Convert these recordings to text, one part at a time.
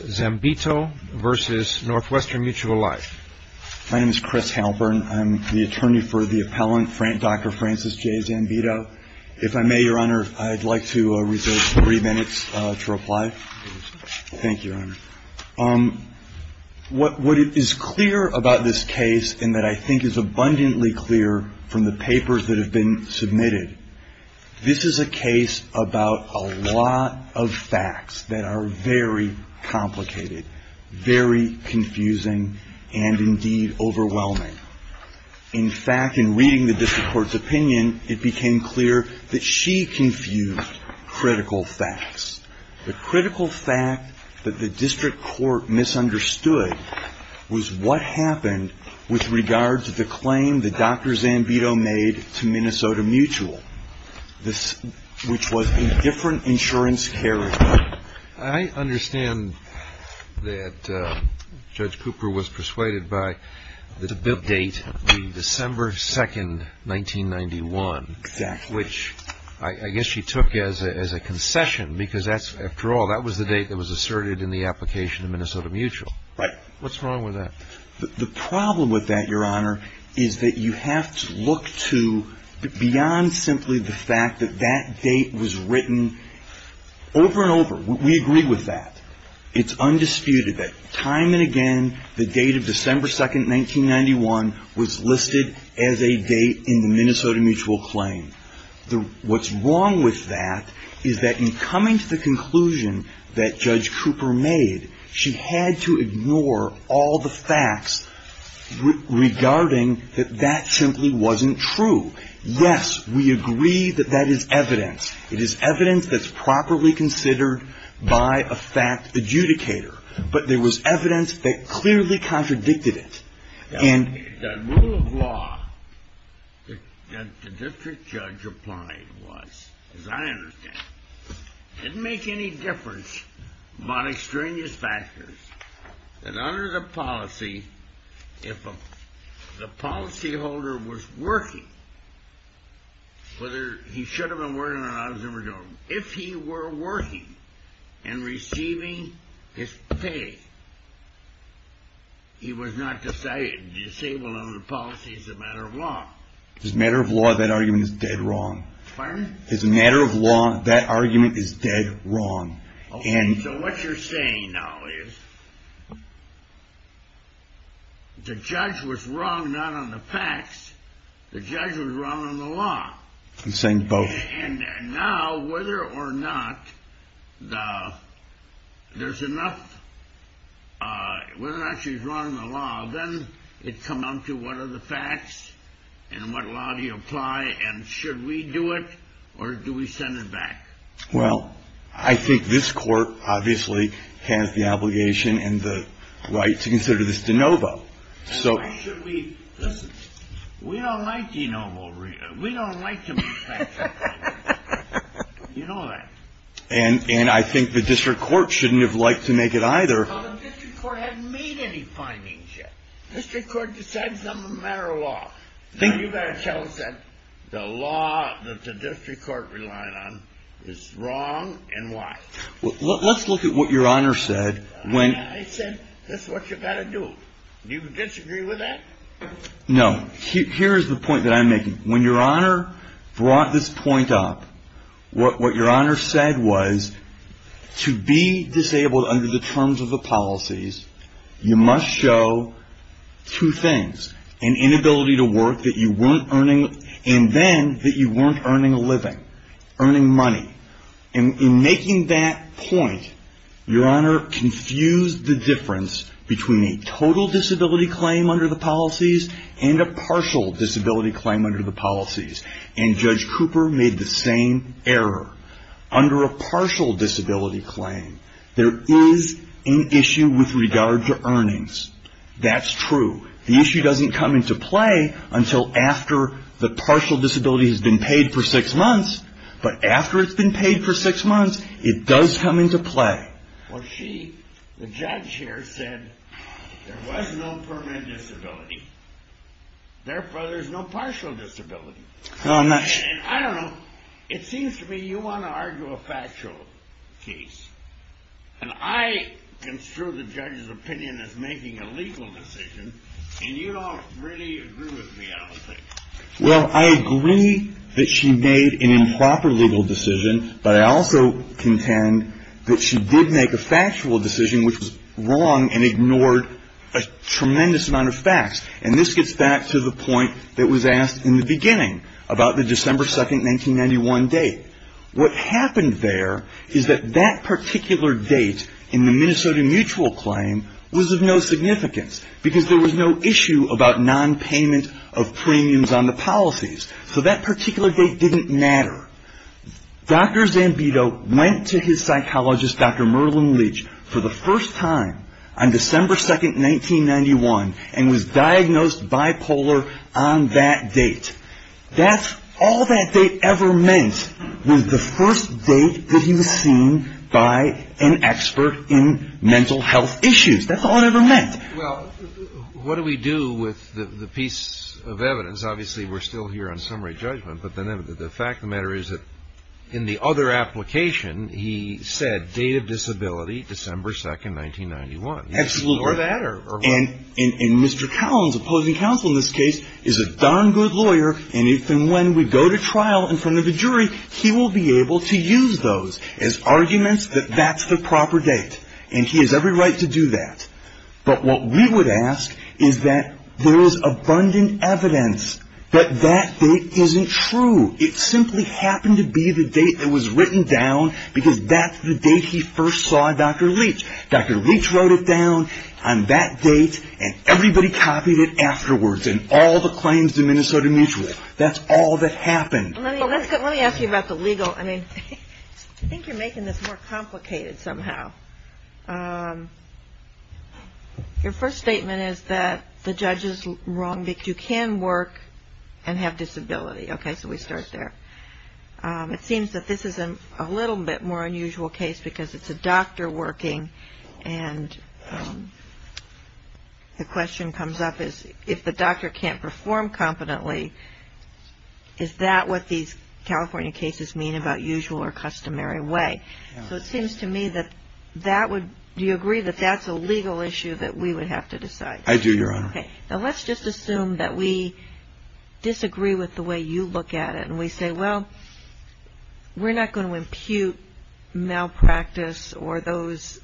Life. My name is Chris Halpern. I'm the attorney for the appellant, Dr. Francis J. Zambito. If I may, Your Honor, I'd like to reserve three minutes to reply. Thank you, Your Honor. What is clear about this case, and that I think is abundantly clear from the papers that have been submitted, this is a case about a lot of facts that are very common. Very complicated, very confusing, and indeed overwhelming. In fact, in reading the district court's opinion, it became clear that she confused critical facts. The critical fact that the district court misunderstood was what happened with regards to the claim that Dr. Zambito made to Minnesota Mutual, which was a different insurance character. I understand that Judge Cooper was persuaded by the date, December 2, 1991. Exactly. Which I guess she took as a concession, because after all, that was the date that was asserted in the application to Minnesota Mutual. Right. What's wrong with that? The problem with that, Your Honor, is that you have to look to beyond simply the fact that that date was written over and over. We agree with that. It's undisputed that time and again the date of December 2, 1991 was listed as a date in the Minnesota Mutual claim. What's wrong with that is that in coming to the conclusion that Judge Cooper made, she had to ignore all the facts regarding that that simply wasn't true. Yes, we agree that that is evidence. It is evidence that's properly considered by a fact adjudicator, but there was evidence that clearly contradicted it. The rule of law that the district judge applied was, as I understand, didn't make any difference on extraneous factors that under the policy, if the policyholder was working, whether he should have been working or not, if he were working and receiving his pay, he was not disabled under the policy as a matter of law. As a matter of law, that argument is dead wrong. Pardon? As a matter of law, that argument is dead wrong. And so what you're saying now is the judge was wrong, not on the facts. The judge was wrong on the law. I'm saying both. And now, whether or not there's enough, whether or not she's wrong in the law, then it comes down to what are the facts and what law do you apply? And should we do it or do we send it back? Well, I think this court obviously has the obligation and the right to consider this de novo. So why should we? Listen, we don't like de novo. We don't like to be fact-checked. You know that. And I think the district court shouldn't have liked to make it either. Well, the district court hasn't made any findings yet. The district court decides them as a matter of law. You've got to tell us that the law that the district court relied on is wrong and why. Let's look at what Your Honor said. I said this is what you've got to do. Do you disagree with that? Here is the point that I'm making. When Your Honor brought this point up, what Your Honor said was to be disabled under the terms of the policies, you must show two things. An inability to work that you weren't earning and then that you weren't earning a living, earning money. In making that point, Your Honor confused the difference between a total disability claim under the policies and a partial disability claim under the policies. And Judge Cooper made the same error. Under a partial disability claim, there is an issue with regard to earnings. That's true. The issue doesn't come into play until after the partial disability has been paid for six months. But after it's been paid for six months, it does come into play. Well, the judge here said there was no permanent disability. Therefore, there's no partial disability. I don't know. It seems to me you want to argue a factual case. And I construe the judge's opinion as making a legal decision. And you don't really agree with me, I don't think. Well, I agree that she made an improper legal decision. But I also contend that she did make a factual decision which was wrong and ignored a tremendous amount of facts. And this gets back to the point that was asked in the beginning about the December 2, 1991 date. What happened there is that that particular date in the Minnesota mutual claim was of no significance because there was no issue about nonpayment of premiums on the policies. So that particular date didn't matter. Dr. Zambito went to his psychologist, Dr. Merlin Leach, for the first time on December 2, 1991, and was diagnosed bipolar on that date. That's all that date ever meant was the first date that he was seen by an expert in mental health issues. That's all it ever meant. Well, what do we do with the piece of evidence? Obviously, we're still here on summary judgment. But the fact of the matter is that in the other application, he said date of disability, December 2, 1991. Absolutely. And Mr. Collins, opposing counsel in this case, is a darn good lawyer. And if and when we go to trial in front of a jury, he will be able to use those as arguments that that's the proper date. And he has every right to do that. But what we would ask is that there is abundant evidence that that date isn't true. It simply happened to be the date that was written down because that's the date he first saw Dr. Leach. Dr. Leach wrote it down on that date, and everybody copied it afterwards in all the claims to Minnesota Mutual. That's all that happened. Let me ask you about the legal. I mean, I think you're making this more complicated somehow. Your first statement is that the judge is wrong. You can work and have disability. Okay, so we start there. It seems that this is a little bit more unusual case because it's a doctor working, and the question comes up is if the doctor can't perform competently, is that what these California cases mean about usual or customary way? So it seems to me that that would do you agree that that's a legal issue that we would have to decide? I do, Your Honor. Okay, now let's just assume that we disagree with the way you look at it, and we say, well, we're not going to impute malpractice or those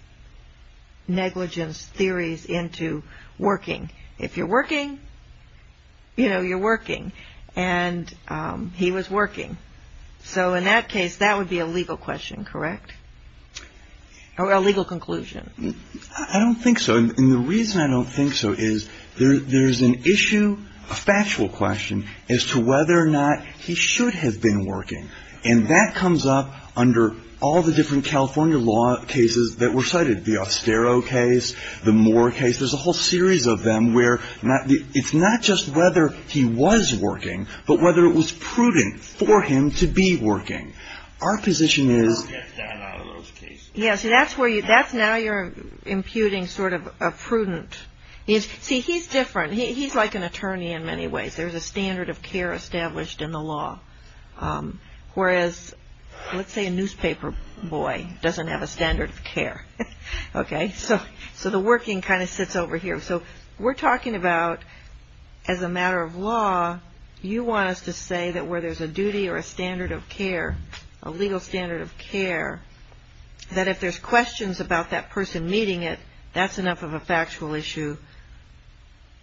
negligence theories into working. If you're working, you know, you're working, and he was working. So in that case, that would be a legal question, correct? Or a legal conclusion? I don't think so. And the reason I don't think so is there's an issue, a factual question, as to whether or not he should have been working, and that comes up under all the different California law cases that were cited, the Ostero case, the Moore case. There's a whole series of them where it's not just whether he was working, but whether it was prudent for him to be working. Our position is — Who gets that out of those cases? Yeah, so that's now you're imputing sort of a prudent. See, he's different. He's like an attorney in many ways. There's a standard of care established in the law, whereas, let's say, a newspaper boy doesn't have a standard of care, okay? So the working kind of sits over here. So we're talking about, as a matter of law, you want us to say that where there's a duty or a standard of care, a legal standard of care, that if there's questions about that person meeting it, that's enough of a factual issue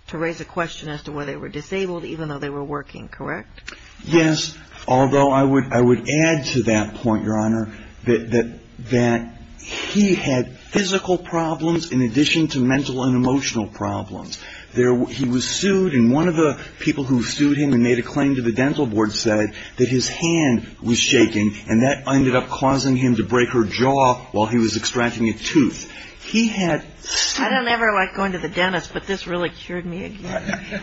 to raise a question as to whether they were disabled, even though they were working, correct? Yes, although I would add to that point, Your Honor, that he had physical problems in addition to mental and emotional problems. He was sued, and one of the people who sued him and made a claim to the dental board said that his hand was shaking, and that ended up causing him to break her jaw while he was extracting a tooth. He had — I don't ever like going to the dentist, but this really cured me again.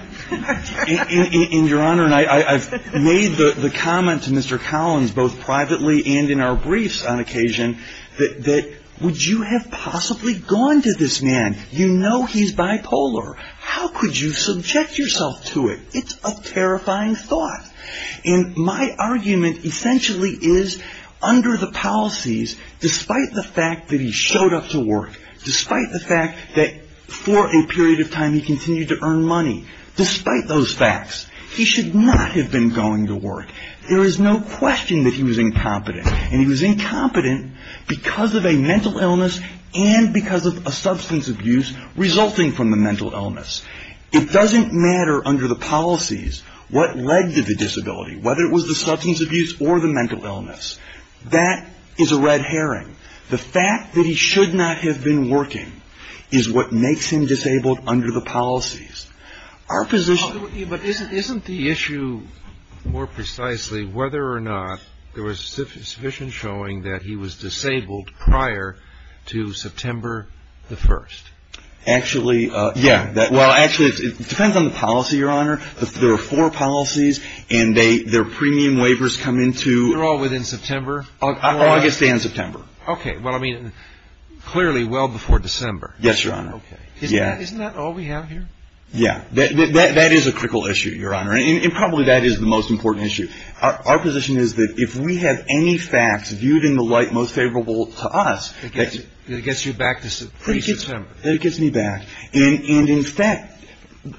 And, Your Honor, I've made the comment to Mr. Collins, both privately and in our briefs on occasion, that would you have possibly gone to this man? You know he's bipolar. How could you subject yourself to it? It's a terrifying thought. And my argument essentially is, under the policies, despite the fact that he showed up to work, despite the fact that for a period of time he continued to earn money, despite those facts, he should not have been going to work. There is no question that he was incompetent, and he was incompetent because of a mental illness and because of a substance abuse resulting from the mental illness. It doesn't matter under the policies what led to the disability, whether it was the substance abuse or the mental illness. That is a red herring. The fact that he should not have been working is what makes him disabled under the policies. Our position — But isn't the issue more precisely whether or not there was sufficient showing that he was disabled prior to September the 1st? Actually — Yeah. Well, actually, it depends on the policy, Your Honor. There are four policies, and their premium waivers come into — They're all within September? August and September. Okay. Well, I mean, clearly well before December. Yes, Your Honor. Okay. Isn't that all we have here? Yeah. That is a critical issue, Your Honor. And probably that is the most important issue. Our position is that if we have any facts viewed in the light most favorable to us — It gets you back to pre-September. It gets me back. And, in fact,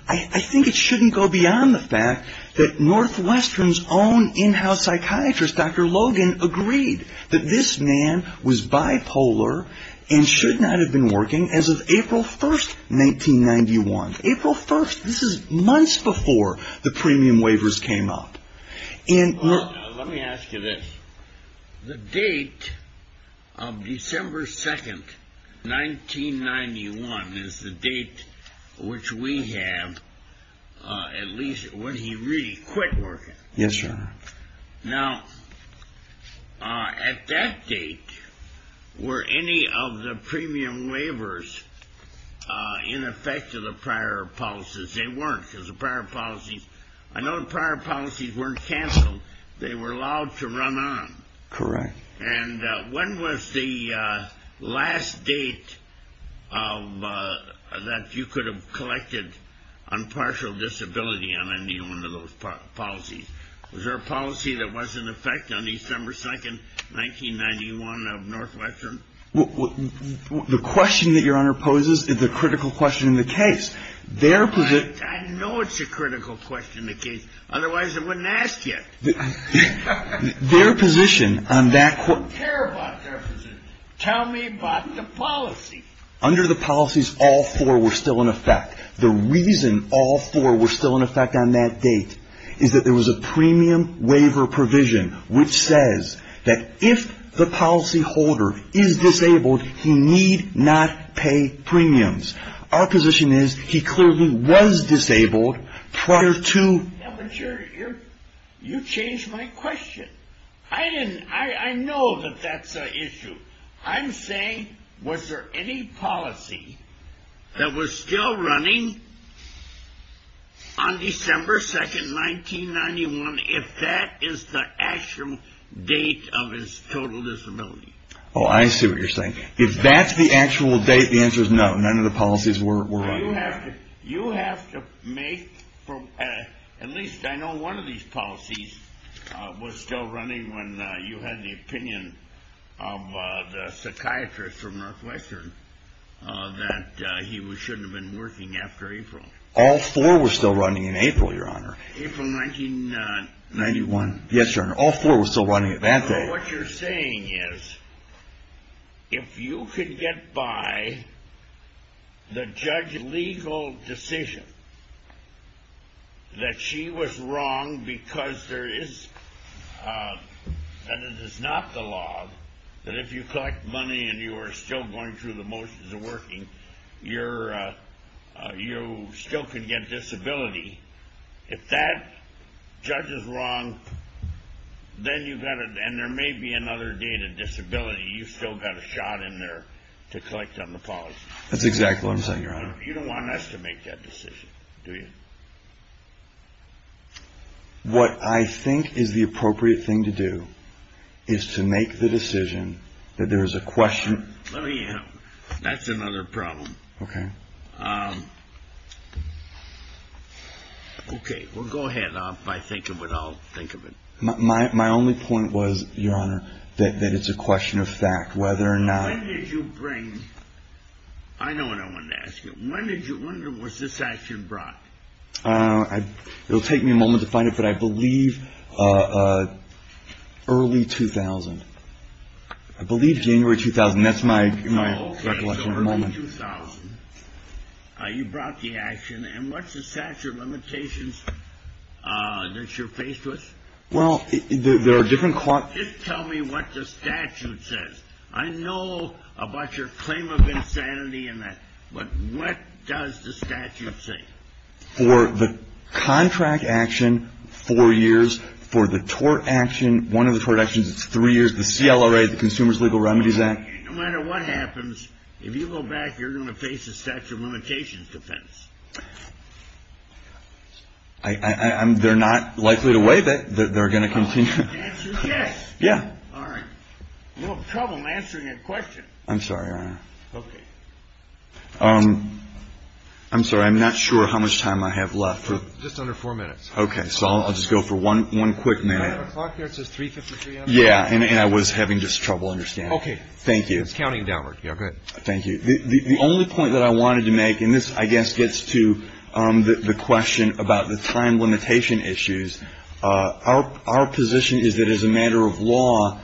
I think it shouldn't go beyond the fact that Northwestern's own in-house psychiatrist, Dr. Logan, agreed that this man was bipolar and should not have been working as of April 1st, 1991. April 1st. This is months before the premium waivers came up. Let me ask you this. The date of December 2nd, 1991, is the date which we have at least when he really quit working. Yes, Your Honor. Now, at that date, were any of the premium waivers in effect of the prior policies? They weren't, because the prior policies — I know the prior policies weren't canceled. They were allowed to run on. Correct. And when was the last date that you could have collected on partial disability on any one of those policies? Was there a policy that was in effect on December 2nd, 1991, of Northwestern? The question that Your Honor poses is a critical question in the case. I know it's a critical question in the case. Otherwise, I wouldn't ask you. Their position on that court — I don't care about their position. Tell me about the policy. Under the policies, all four were still in effect. The reason all four were still in effect on that date is that there was a premium waiver provision which says that if the policyholder is disabled, he need not pay premiums. Our position is he clearly was disabled prior to — Yeah, but you changed my question. I know that that's an issue. I'm saying, was there any policy that was still running on December 2nd, 1991, if that is the actual date of his total disability? Oh, I see what you're saying. If that's the actual date, the answer is no. None of the policies were running. You have to make — at least I know one of these policies was still running when you had the opinion of the psychiatrist from Northwestern that he shouldn't have been working after April. All four were still running in April, Your Honor. April 1991. Yes, Your Honor. All four were still running at that date. What you're saying is, if you could get by the judge's legal decision that she was wrong because there is — that it is not the law that if you collect money and you are still going through the motions of working, you still can get disability. If that judge is wrong, then you've got to — and there may be another date of disability. You've still got a shot in there to collect on the policy. That's exactly what I'm saying, Your Honor. You don't want us to make that decision, do you? What I think is the appropriate thing to do is to make the decision that there is a question — Let me help. That's another problem. Okay. Okay. Well, go ahead. If I think of it, I'll think of it. My only point was, Your Honor, that it's a question of fact. Whether or not — When did you bring — I know what I want to ask you. When did you — when was this action brought? I don't know. It will take me a moment to find it, but I believe early 2000. I believe January 2000. That's my recollection. Oh, okay. So early 2000. You brought the action, and what's the statute of limitations that you're faced with? Well, there are different — Just tell me what the statute says. I know about your claim of insanity and that, but what does the statute say? For the contract action, four years. For the tort action, one of the tort actions, it's three years. The CLRA, the Consumer's Legal Remedies Act. No matter what happens, if you go back, you're going to face a statute of limitations defense. They're not likely to waive it. They're going to continue. The answer is yes. Yeah. All right. A little trouble answering a question. I'm sorry, Your Honor. Okay. I'm sorry. I'm not sure how much time I have left. Just under four minutes. Okay. So I'll just go for one quick minute. Do I have a clock here that says 3.53 on the clock? Yeah, and I was having just trouble understanding. Okay. Thank you. It's counting downward. Yeah, go ahead. Thank you. The only point that I wanted to make, and this, I guess, gets to the question about the time limitation issues, our position is that as a matter of law,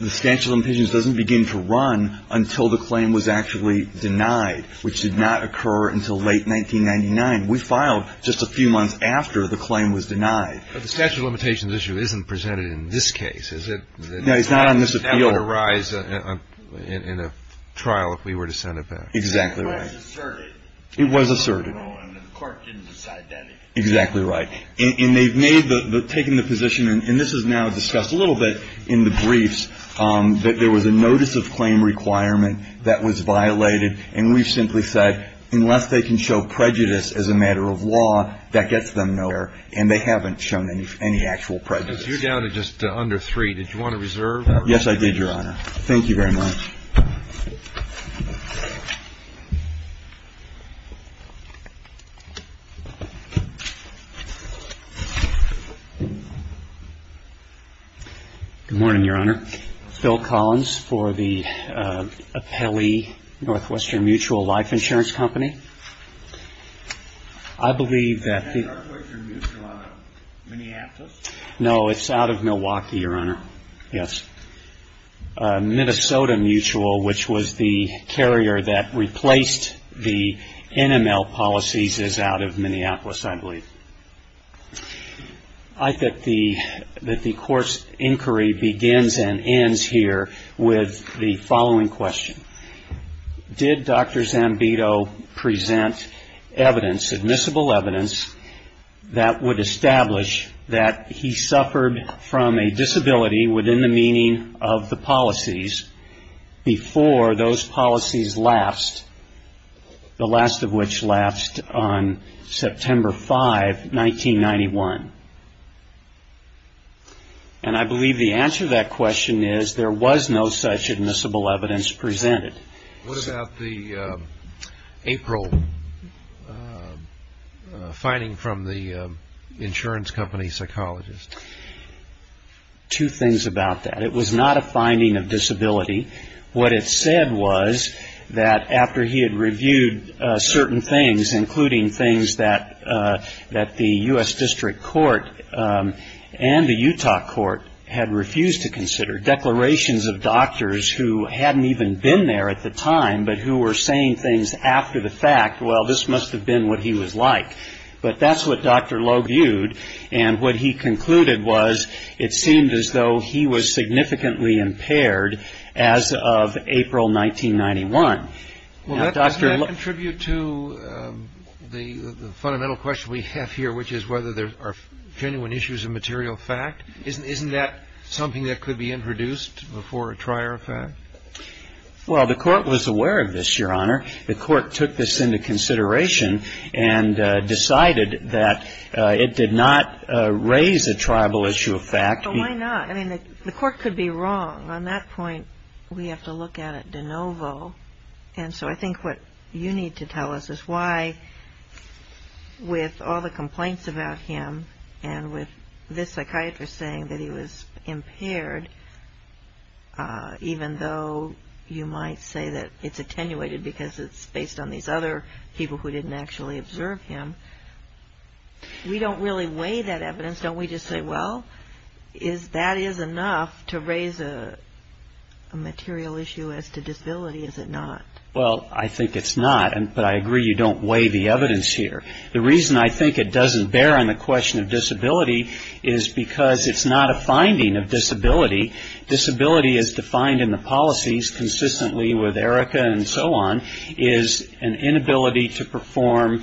the statute of limitations doesn't begin to run until the claim was actually denied, which did not occur until late 1999. We filed just a few months after the claim was denied. But the statute of limitations issue isn't presented in this case, is it? No, it's not on this appeal. But that would arise in a trial if we were to send it back. Exactly right. It was asserted. It was asserted. And the court didn't decide that. Exactly right. And they've made the – taken the position, and this is now discussed a little bit in the briefs, that there was a notice of claim requirement that was violated, and we've simply said, unless they can show prejudice as a matter of law, that gets them nowhere, and they haven't shown any actual prejudice. You're down to just under three. Did you want to reserve that? Yes, I did, Your Honor. Thank you very much. Good morning, Your Honor. Phil Collins for the Apelli Northwestern Mutual Life Insurance Company. I believe that the – Is Northwestern Mutual out of Minneapolis? No, it's out of Milwaukee, Your Honor. Yes. Minnesota Mutual, which was the carrier that replaced the NML policies, is out of Minneapolis, I believe. I think that the court's inquiry begins and ends here with the following question. Did Dr. Zambito present evidence, admissible evidence, that would establish that he suffered from a disability within the meaning of the policies before those policies lapsed, the last of which lapsed on September 5, 1991? And I believe the answer to that question is there was no such admissible evidence presented. What about the April finding from the insurance company psychologist? Two things about that. It was not a finding of disability. What it said was that after he had reviewed certain things, including things that the U.S. District Court and the Utah Court had refused to consider, declarations of doctors who hadn't even been there at the time but who were saying things after the fact, well, this must have been what he was like. But that's what Dr. Lowe viewed, and what he concluded was it seemed as though he was significantly impaired as of April 1991. Well, doesn't that contribute to the fundamental question we have here, which is whether there are genuine issues of material fact? Isn't that something that could be introduced before a trier of fact? Well, the Court was aware of this, Your Honor. The Court took this into consideration and decided that it did not raise a tribal issue of fact. But why not? I mean, the Court could be wrong. On that point, we have to look at it de novo. And so I think what you need to tell us is why, with all the complaints about him and with this psychiatrist saying that he was impaired, even though you might say that it's attenuated because it's based on these other people who didn't actually observe him, we don't really weigh that evidence. Don't we just say, well, that is enough to raise a material issue as to disability? Is it not? Well, I think it's not. But I agree you don't weigh the evidence here. The reason I think it doesn't bear on the question of disability is because it's not a finding of disability. Disability, as defined in the policies consistently with Erica and so on, is an inability to perform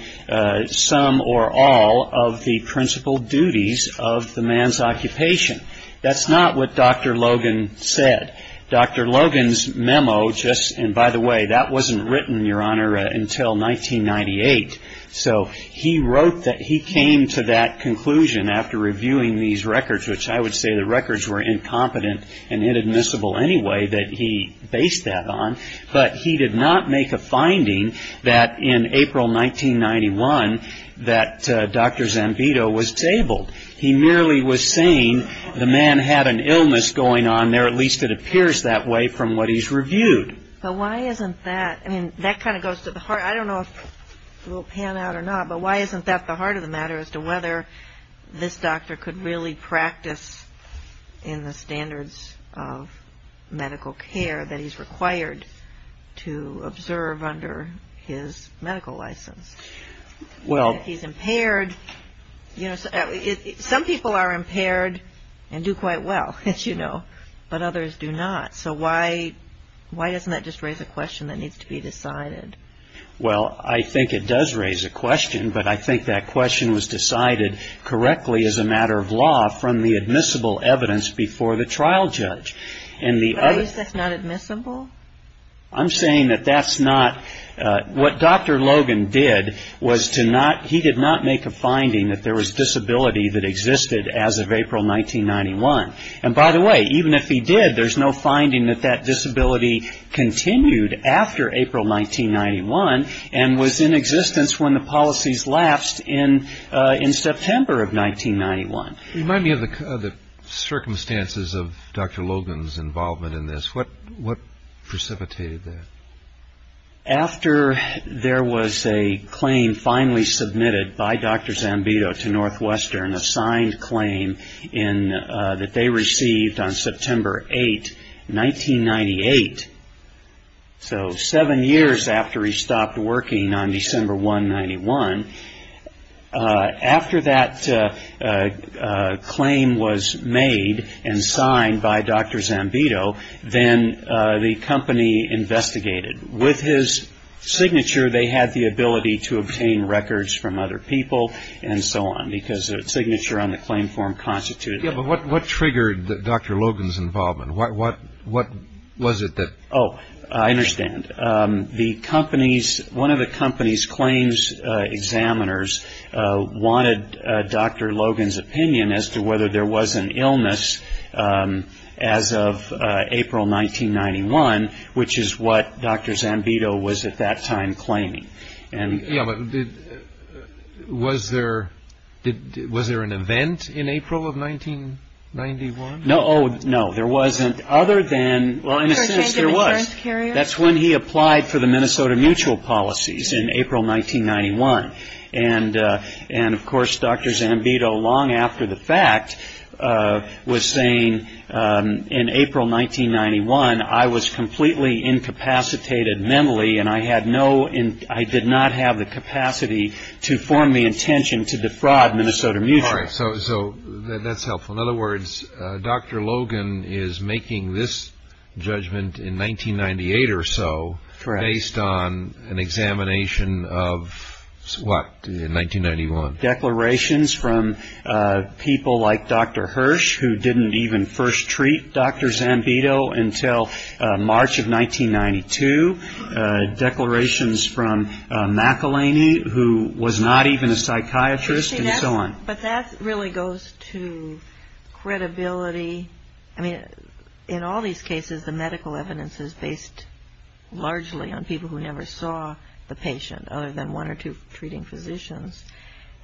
some or all of the principal duties of the man's occupation. That's not what Dr. Logan said. Dr. Logan's memo just — and by the way, that wasn't written, Your Honor, until 1998. So he wrote that he came to that conclusion after reviewing these records, which I would say the records were incompetent and inadmissible anyway that he based that on. But he did not make a finding that in April 1991 that Dr. Zambito was tabled. He merely was saying the man had an illness going on there, at least it appears that way from what he's reviewed. But why isn't that — I mean, that kind of goes to the heart. I don't know if it will pan out or not, but why isn't that the heart of the matter as to whether this doctor could really practice in the standards of medical care that he's required to observe under his medical license? If he's impaired — some people are impaired and do quite well, as you know, but others do not. So why doesn't that just raise a question that needs to be decided? Well, I think it does raise a question, but I think that question was decided correctly as a matter of law from the admissible evidence before the trial judge. But at least that's not admissible? I'm saying that that's not — what Dr. Logan did was to not — he did not make a finding that there was disability that existed as of April 1991. And by the way, even if he did, there's no finding that that disability continued after April 1991 and was in existence when the policies lapsed in September of 1991. Remind me of the circumstances of Dr. Logan's involvement in this. What precipitated that? After there was a claim finally submitted by Dr. Zambito to Northwestern, a signed claim that they received on September 8, 1998, so seven years after he stopped working on December 1, 1991, after that claim was made and signed by Dr. Zambito, then the company investigated. With his signature, they had the ability to obtain records from other people and so on because a signature on the claim form constituted — Yeah, but what triggered Dr. Logan's involvement? What was it that — Oh, I understand. The company's — one of the company's claims examiners wanted Dr. Logan's opinion as to whether there was an illness as of April 1991, which is what Dr. Zambito was at that time claiming. Yeah, but was there an event in April of 1991? No, there wasn't other than — well, in a sense, there was. That's when he applied for the Minnesota Mutual policies in April 1991. And, of course, Dr. Zambito, long after the fact, was saying, in April 1991, I was completely incapacitated mentally and I did not have the capacity to form the intention to defraud Minnesota Mutual. All right, so that's helpful. In other words, Dr. Logan is making this judgment in 1998 or so based on an examination of what in 1991? Declarations from people like Dr. Hirsch, who didn't even first treat Dr. Zambito until March of 1992, declarations from McElhaney, who was not even a psychiatrist, and so on. But that really goes to credibility. I mean, in all these cases, the medical evidence is based largely on people who never saw the patient other than one or two treating physicians.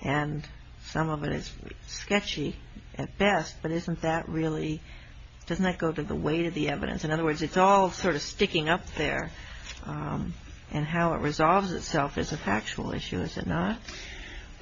And some of it is sketchy at best, but isn't that really — doesn't that go to the weight of the evidence? In other words, it's all sort of sticking up there. And how it resolves itself is a factual issue, is it not?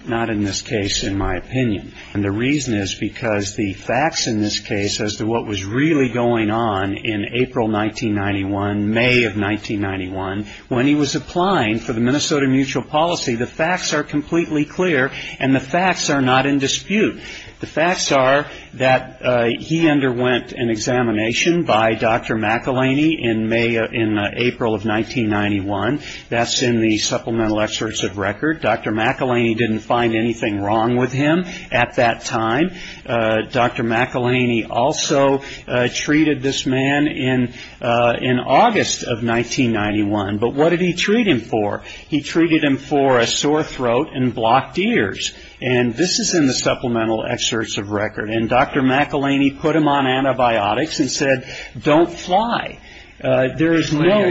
Not in this case, in my opinion. And the reason is because the facts in this case as to what was really going on in April 1991, May of 1991, when he was applying for the Minnesota Mutual policy, the facts are completely clear and the facts are not in dispute. The facts are that he underwent an examination by Dr. McElhaney in April of 1991. That's in the supplemental excerpts of record. Dr. McElhaney didn't find anything wrong with him at that time. Dr. McElhaney also treated this man in August of 1991. But what did he treat him for? He treated him for a sore throat and blocked ears. And this is in the supplemental excerpts of record. And Dr. McElhaney put him on antibiotics and said, don't fly. There is no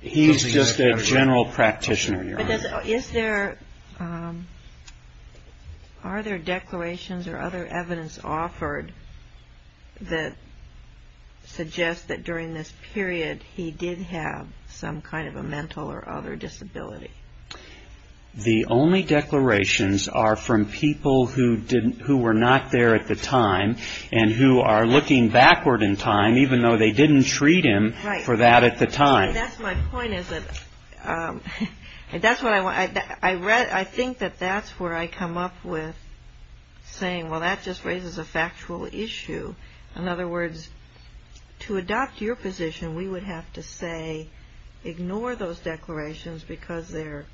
— He's just a general practitioner, Your Honor. But is there — are there declarations or other evidence offered that suggests that during this period he did have some kind of a mental or other disability? The only declarations are from people who were not there at the time and who are looking backward in time, even though they didn't treat him for that at the time. And that's my point is that — that's what I want — I think that that's where I come up with saying, well, that just raises a factual issue. In other words, to adopt your position, we would have to say, ignore those declarations because they're,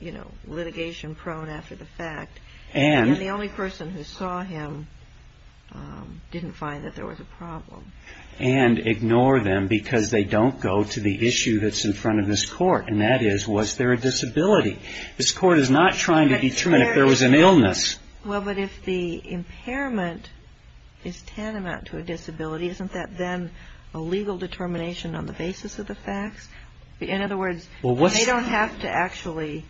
you know, litigation-prone after the fact. And the only person who saw him didn't find that there was a problem. And ignore them because they don't go to the issue that's in front of this court, and that is, was there a disability? This court is not trying to determine if there was an illness. Well, but if the impairment is tantamount to a disability, isn't that then a legal determination on the basis of the facts? In other words, they don't have to actually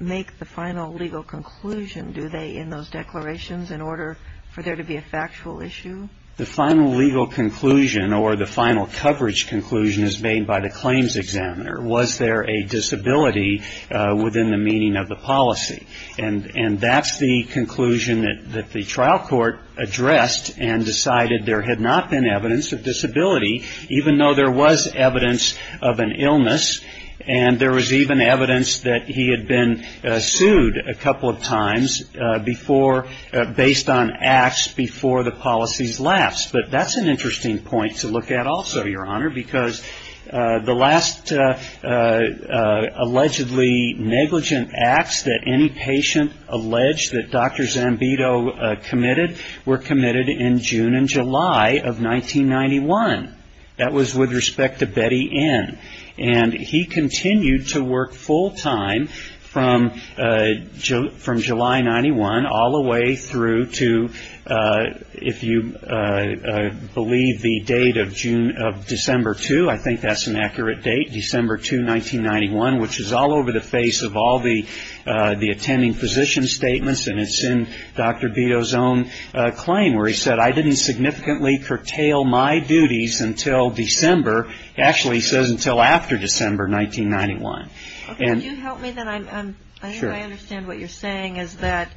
make the final legal conclusion, do they, in those declarations in order for there to be a factual issue? The final legal conclusion or the final coverage conclusion is made by the claims examiner. Was there a disability within the meaning of the policy? And that's the conclusion that the trial court addressed and decided there had not been evidence of disability, even though there was evidence of an illness, and there was even evidence that he had been sued a couple of times before, based on acts before the policy's lapse. But that's an interesting point to look at also, Your Honor, because the last allegedly negligent acts that any patient alleged that Dr. Zambito committed were committed in June and July of 1991. That was with respect to Betty N. And he continued to work full-time from July 91 all the way through to, if you believe the date of December 2, I think that's an accurate date, December 2, 1991, which is all over the face of all the attending physician statements, and it's in Dr. Zambito's own claim where he said, I didn't significantly curtail my duties until December. Actually, he says until after December 1991. Okay. Can you help me then? Sure. I think I understand what you're saying is that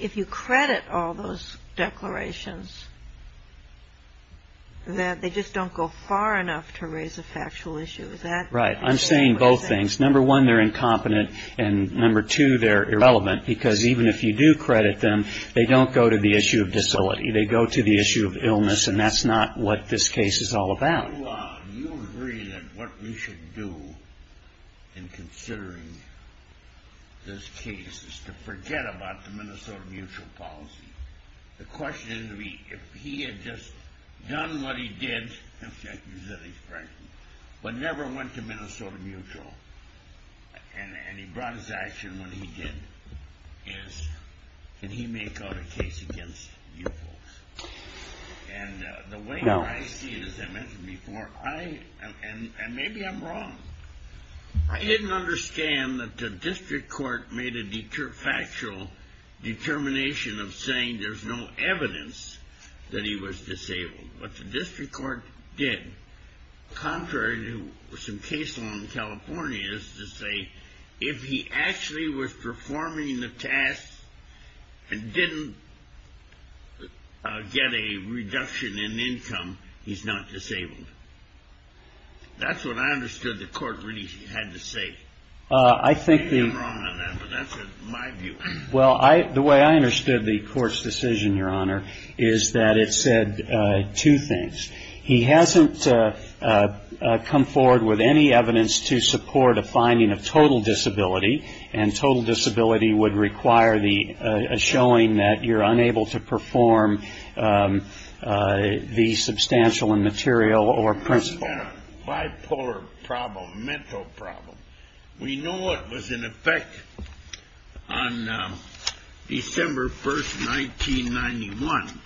if you credit all those declarations, that they just don't go far enough to raise a factual issue. Is that what you're saying? Right. I'm saying both things. Number one, they're incompetent, and number two, they're irrelevant, because even if you do credit them, they don't go to the issue of facility. They go to the issue of illness, and that's not what this case is all about. You agree that what we should do in considering this case is to forget about the Minnesota Mutual policy. The question is, if he had just done what he did, but never went to Minnesota Mutual, and he brought his action when he did, can he make a case against you folks? And the way I see it, as I mentioned before, and maybe I'm wrong, I didn't understand that the district court made a factual determination of saying there's no evidence that he was disabled. What the district court did, contrary to some case law in California, is to say if he actually was performing the task and didn't get a reduction in income, he's not disabled. That's what I understood the court really had to say. I may be wrong on that, but that's my view. Well, the way I understood the court's decision, Your Honor, is that it said two things. He hasn't come forward with any evidence to support a finding of total disability, and total disability would require a showing that you're unable to perform the substantial and material or principal. He had a bipolar problem, mental problem. We know it was in effect on December 1, 1991,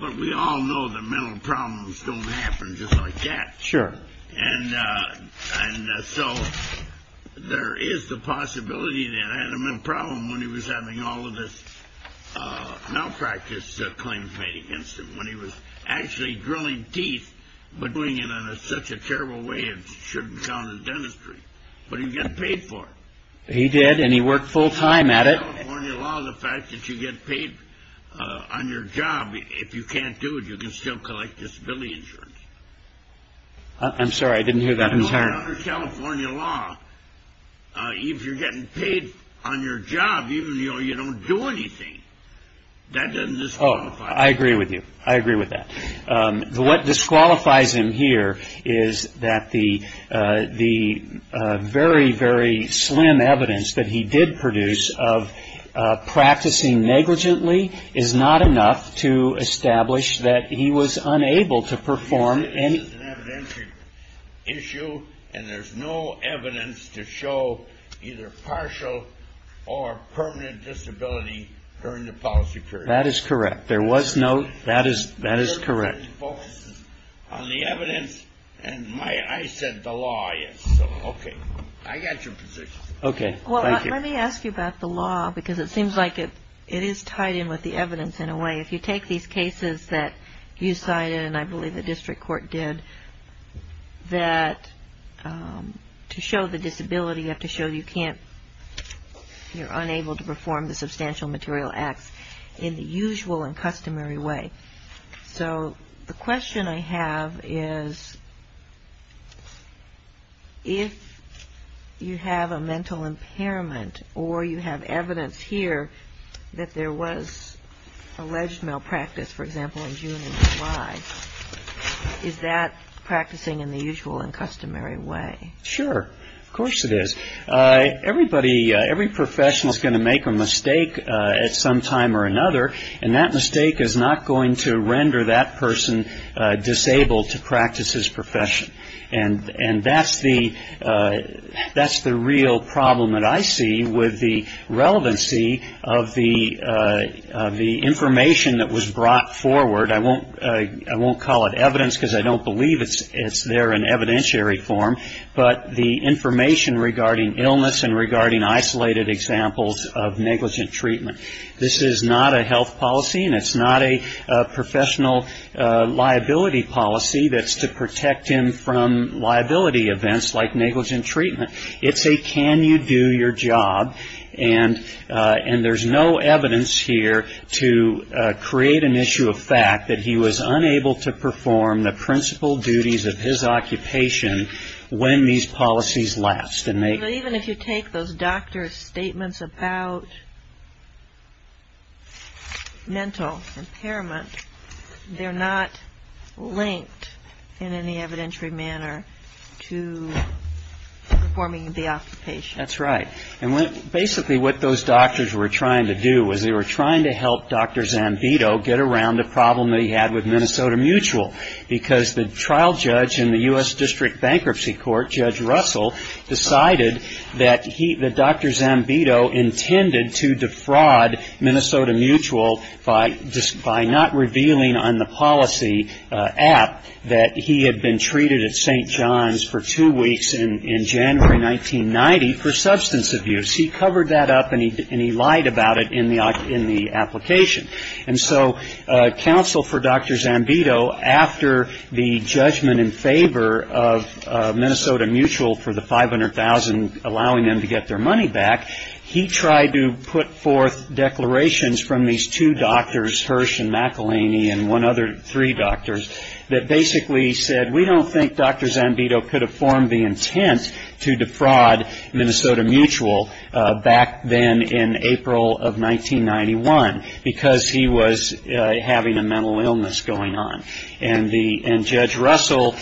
but we all know that mental problems don't happen just like that. Sure. And so there is the possibility that Adam had a problem when he was having all of this malpractice claims made against him, when he was actually drilling teeth, but doing it in such a terrible way it shouldn't count in dentistry. But he got paid for it. He did, and he worked full time at it. Under California law, the fact that you get paid on your job, if you can't do it, you can still collect disability insurance. I'm sorry, I didn't hear that. I'm sorry. Under California law, if you're getting paid on your job, even though you don't do anything, that doesn't disqualify you. Oh, I agree with you. I agree with that. What disqualifies him here is that the very, very slim evidence that he did produce of practicing negligently is not enough to establish that he was unable to perform any... He says it's an evidentiary issue, and there's no evidence to show either partial or permanent disability during the policy period. That is correct. There was no... That is correct. It focuses on the evidence, and I said the law. Okay, I got your position. Okay, thank you. Well, let me ask you about the law, because it seems like it is tied in with the evidence in a way. If you take these cases that you cited, and I believe the district court did, that to show the disability, you have to show you can't, you're unable to perform the substantial material acts in the usual and customary way. So the question I have is if you have a mental impairment or you have evidence here that there was alleged malpractice, for example, in June of July, is that practicing in the usual and customary way? Sure. Of course it is. Everybody, every professional is going to make a mistake at some time or another, and that mistake is not going to render that person disabled to practice his profession. And that's the real problem that I see with the relevancy of the information that was brought forward. I won't call it evidence, because I don't believe it's there in evidentiary form, but the information regarding illness and regarding isolated examples of negligent treatment. This is not a health policy, and it's not a professional liability policy that's to protect him from liability events like negligent treatment. It's a can you do your job, and there's no evidence here to create an issue of fact that he was unable to perform the principal duties of his occupation when these policies lapsed. Even if you take those doctors' statements about mental impairment, they're not linked in any evidentiary manner to performing the occupation. That's right. And basically what those doctors were trying to do was they were trying to help Dr. Zambito get around the problem that he had with Minnesota Mutual, because the trial judge in the U.S. District Bankruptcy Court, Judge Russell, decided that Dr. Zambito intended to defraud Minnesota Mutual by not revealing on the policy app that he had been treated at St. John's for two weeks in January 1990 for substance abuse. He covered that up, and he lied about it in the application. And so counsel for Dr. Zambito, after the judgment in favor of Minnesota Mutual for the $500,000, allowing them to get their money back, he tried to put forth declarations from these two doctors, Hirsch and McElhaney and one other, three doctors, that basically said, we don't think Dr. Zambito could have formed the intent to defraud Minnesota Mutual back then in April of 1991, because he was having a mental illness going on. And Judge Russell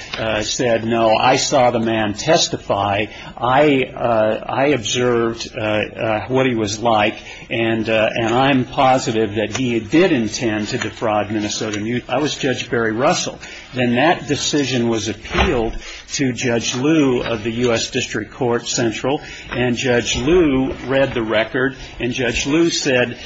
said, no, I saw the man testify. I observed what he was like, and I'm positive that he did intend to defraud Minnesota Mutual. I was Judge Barry Russell. Then that decision was appealed to Judge Lew of the U.S. District Court Central, and Judge Lew read the record, and Judge Lew said,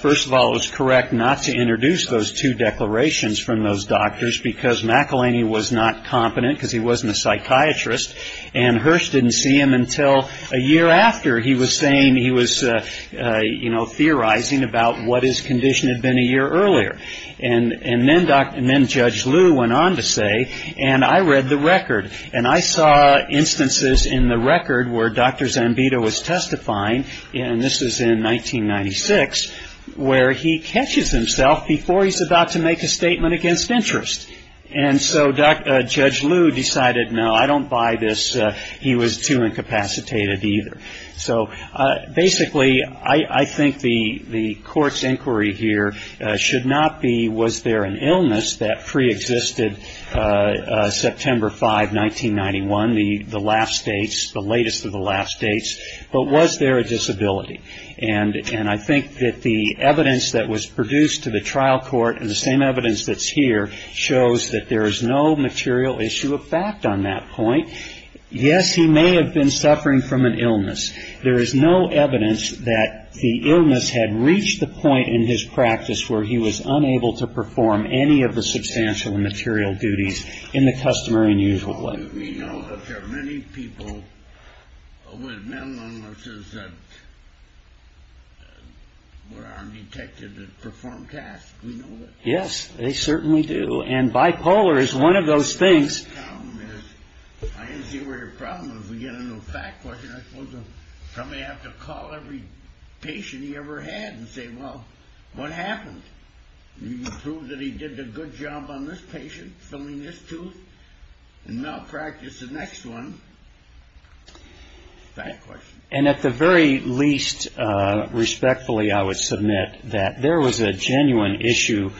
first of all, it was correct not to introduce those two declarations from those doctors, because McElhaney was not competent because he wasn't a psychiatrist, and Hirsch didn't see him until a year after he was saying he was, you know, theorizing about what his condition had been a year earlier. And then Judge Lew went on to say, and I read the record, and I saw instances in the record where Dr. Zambito was testifying, and this is in 1996, where he catches himself before he's about to make a statement against interest. And so Judge Lew decided, no, I don't buy this. He was too incapacitated either. So basically, I think the court's inquiry here should not be, was there an illness that preexisted September 5, 1991, the last dates, the latest of the last dates, but was there a disability? And I think that the evidence that was produced to the trial court and the same evidence that's here shows that there is no material issue of fact on that point. Yes, he may have been suffering from an illness. There is no evidence that the illness had reached the point in his practice where he was unable to perform any of the substantial and material duties in the customary and usual way. Yes, they certainly do. And bipolar is one of those things. Somebody has to call every patient he ever had and say, well, what happened? You can prove that he did a good job on this patient, filling this tooth, and malpractice the next one. That question. And at the very least, respectfully, I would submit that there was a genuine issue,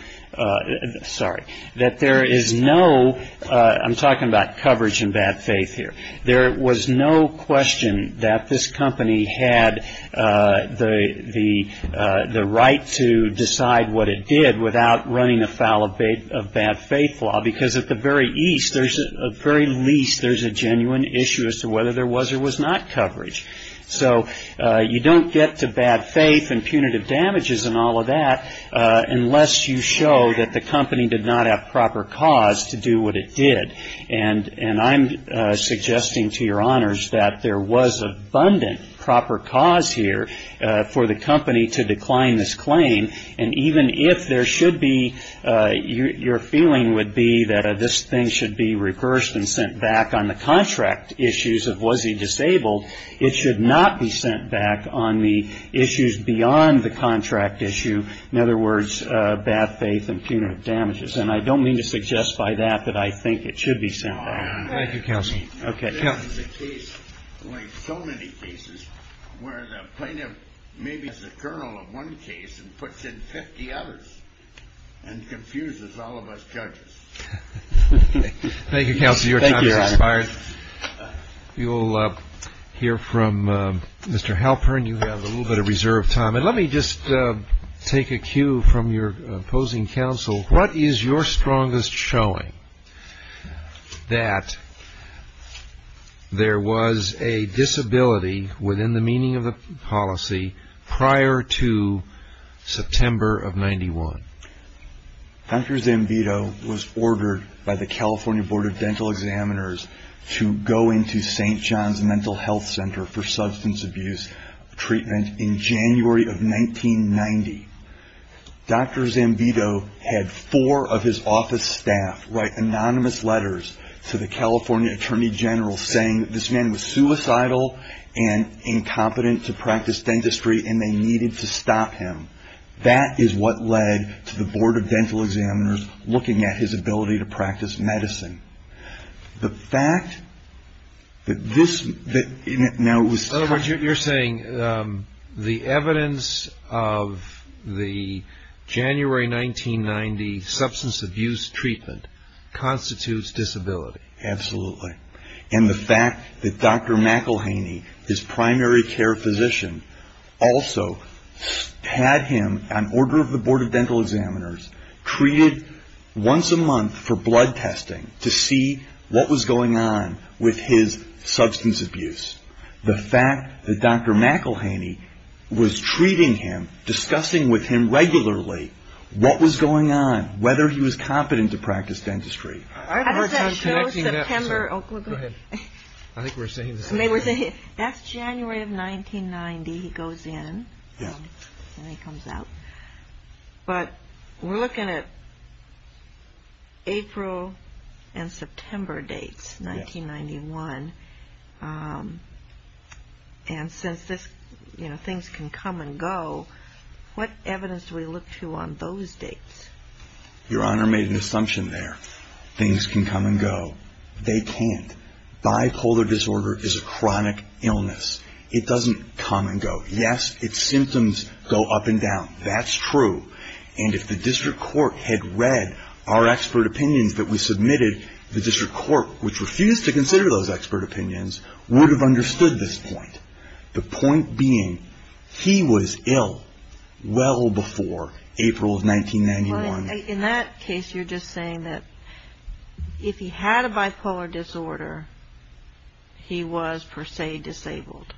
sorry, that there is no, I'm talking about coverage and bad faith here. There was no question that this company had the right to decide what it did without running afoul of bad faith law, because at the very least there's a genuine issue as to whether there was or was not coverage. So you don't get to bad faith and punitive damages and all of that unless you show that the company did not have proper cause to do what it did. And I'm suggesting to your honors that there was abundant proper cause here for the company to decline this claim. And even if there should be, your feeling would be that this thing should be reversed and sent back on the contract issues of was he disabled, it should not be sent back on the issues beyond the contract issue. In other words, bad faith and punitive damages. And I don't mean to suggest by that that I think it should be sent back. Thank you, Counselor. Okay. This is a case like so many cases where the plaintiff maybe is the colonel of one case and puts in 50 others and confuses all of us judges. Thank you, Counselor. Your time has expired. Thank you, Your Honor. You'll hear from Mr. Halpern. You have a little bit of reserve time. And let me just take a cue from your opposing counsel. What is your strongest showing that there was a disability within the meaning of the policy prior to September of 91? Dr. Zambito was ordered by the California Board of Dental Examiners to go into St. John's Mental Health Center for substance abuse treatment in January of 1990. Dr. Zambito had four of his office staff write anonymous letters to the California Attorney General saying that this man was suicidal and incompetent to practice dentistry and they needed to stop him. That is what led to the Board of Dental Examiners looking at his ability to practice medicine. The fact that this now was... In other words, you're saying the evidence of the January 1990 substance abuse treatment constitutes disability. Absolutely. And the fact that Dr. McElhaney, his primary care physician, also had him, on order of the Board of Dental Examiners, treated once a month for blood testing to see what was going on with his substance abuse. The fact that Dr. McElhaney was treating him, discussing with him regularly what was going on, whether he was competent to practice dentistry. How does that show September... Go ahead. I think we're saying the same thing. That's January of 1990 he goes in and then he comes out. But we're looking at April and September dates, 1991. And since things can come and go, what evidence do we look to on those dates? Your Honor made an assumption there. Things can come and go. They can't. Bipolar disorder is a chronic illness. It doesn't come and go. Yes, its symptoms go up and down. That's true. And if the district court had read our expert opinions that we submitted, the district court, which refused to consider those expert opinions, would have understood this point. The point being, he was ill well before April of 1991. In that case, you're just saying that if he had a bipolar disorder, he was per se disabled.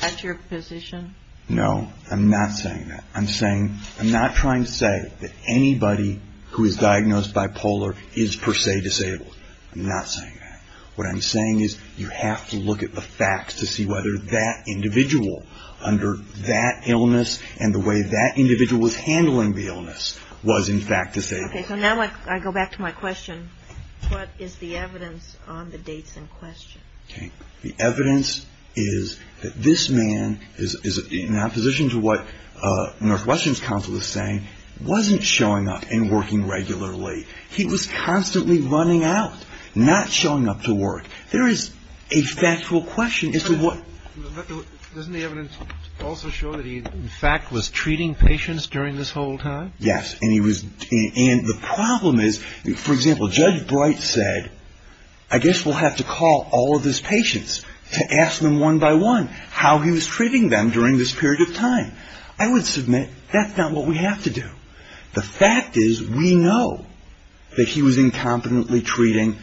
That's your position? No, I'm not saying that. I'm not trying to say that anybody who is diagnosed bipolar is per se disabled. I'm not saying that. What I'm saying is you have to look at the facts to see whether that individual, under that illness and the way that individual was handling the illness, was in fact disabled. Okay, so now I go back to my question. What is the evidence on the dates in question? The evidence is that this man, in opposition to what Northwestern's counsel is saying, wasn't showing up and working regularly. He was constantly running out, not showing up to work. There is a factual question as to what. Doesn't the evidence also show that he, in fact, was treating patients during this whole time? Yes, and he was. And the problem is, for example, Judge Bright said, I guess we'll have to call all of his patients to ask them one by one how he was treating them during this period of time. I would submit that's not what we have to do. The fact is we know that he was incompetently treating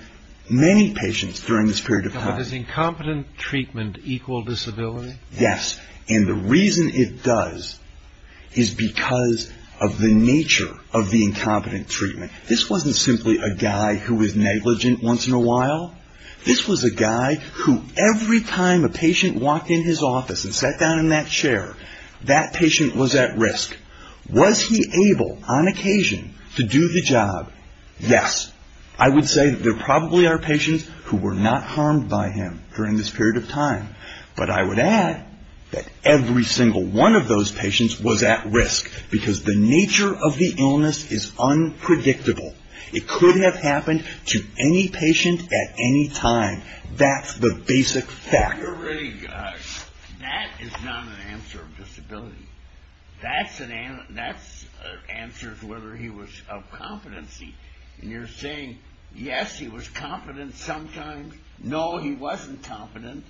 many patients during this period of time. But does incompetent treatment equal disability? Yes, and the reason it does is because of the nature of the incompetent treatment. This wasn't simply a guy who was negligent once in a while. This was a guy who every time a patient walked in his office and sat down in that chair, that patient was at risk. Was he able, on occasion, to do the job? Yes. I would say there probably are patients who were not harmed by him during this period of time. But I would add that every single one of those patients was at risk because the nature of the illness is unpredictable. It could have happened to any patient at any time. That's the basic fact. You're really good. That is not an answer of disability. That answers whether he was of competency. And you're saying, yes, he was competent sometimes. No, he wasn't competent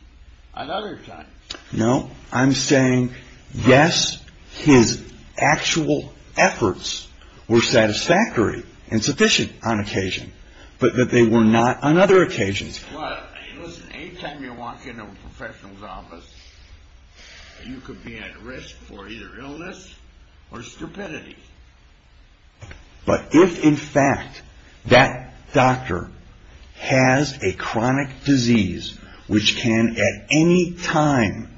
on other times. No, I'm saying, yes, his actual efforts were satisfactory and sufficient on occasion, but that they were not on other occasions. Listen, any time you walk into a professional's office, you could be at risk for either illness or stupidity. But if, in fact, that doctor has a chronic disease, which can at any time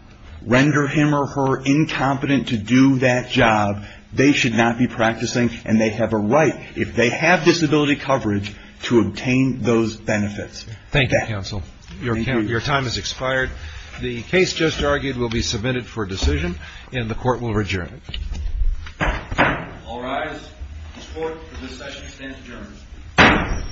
render him or her incompetent to do that job, they should not be practicing, and they have a right, if they have disability coverage, to obtain those benefits. Thank you, counsel. Your time has expired. The case just argued will be submitted for decision, and the court will adjourn. All rise. This court for this session stands adjourned.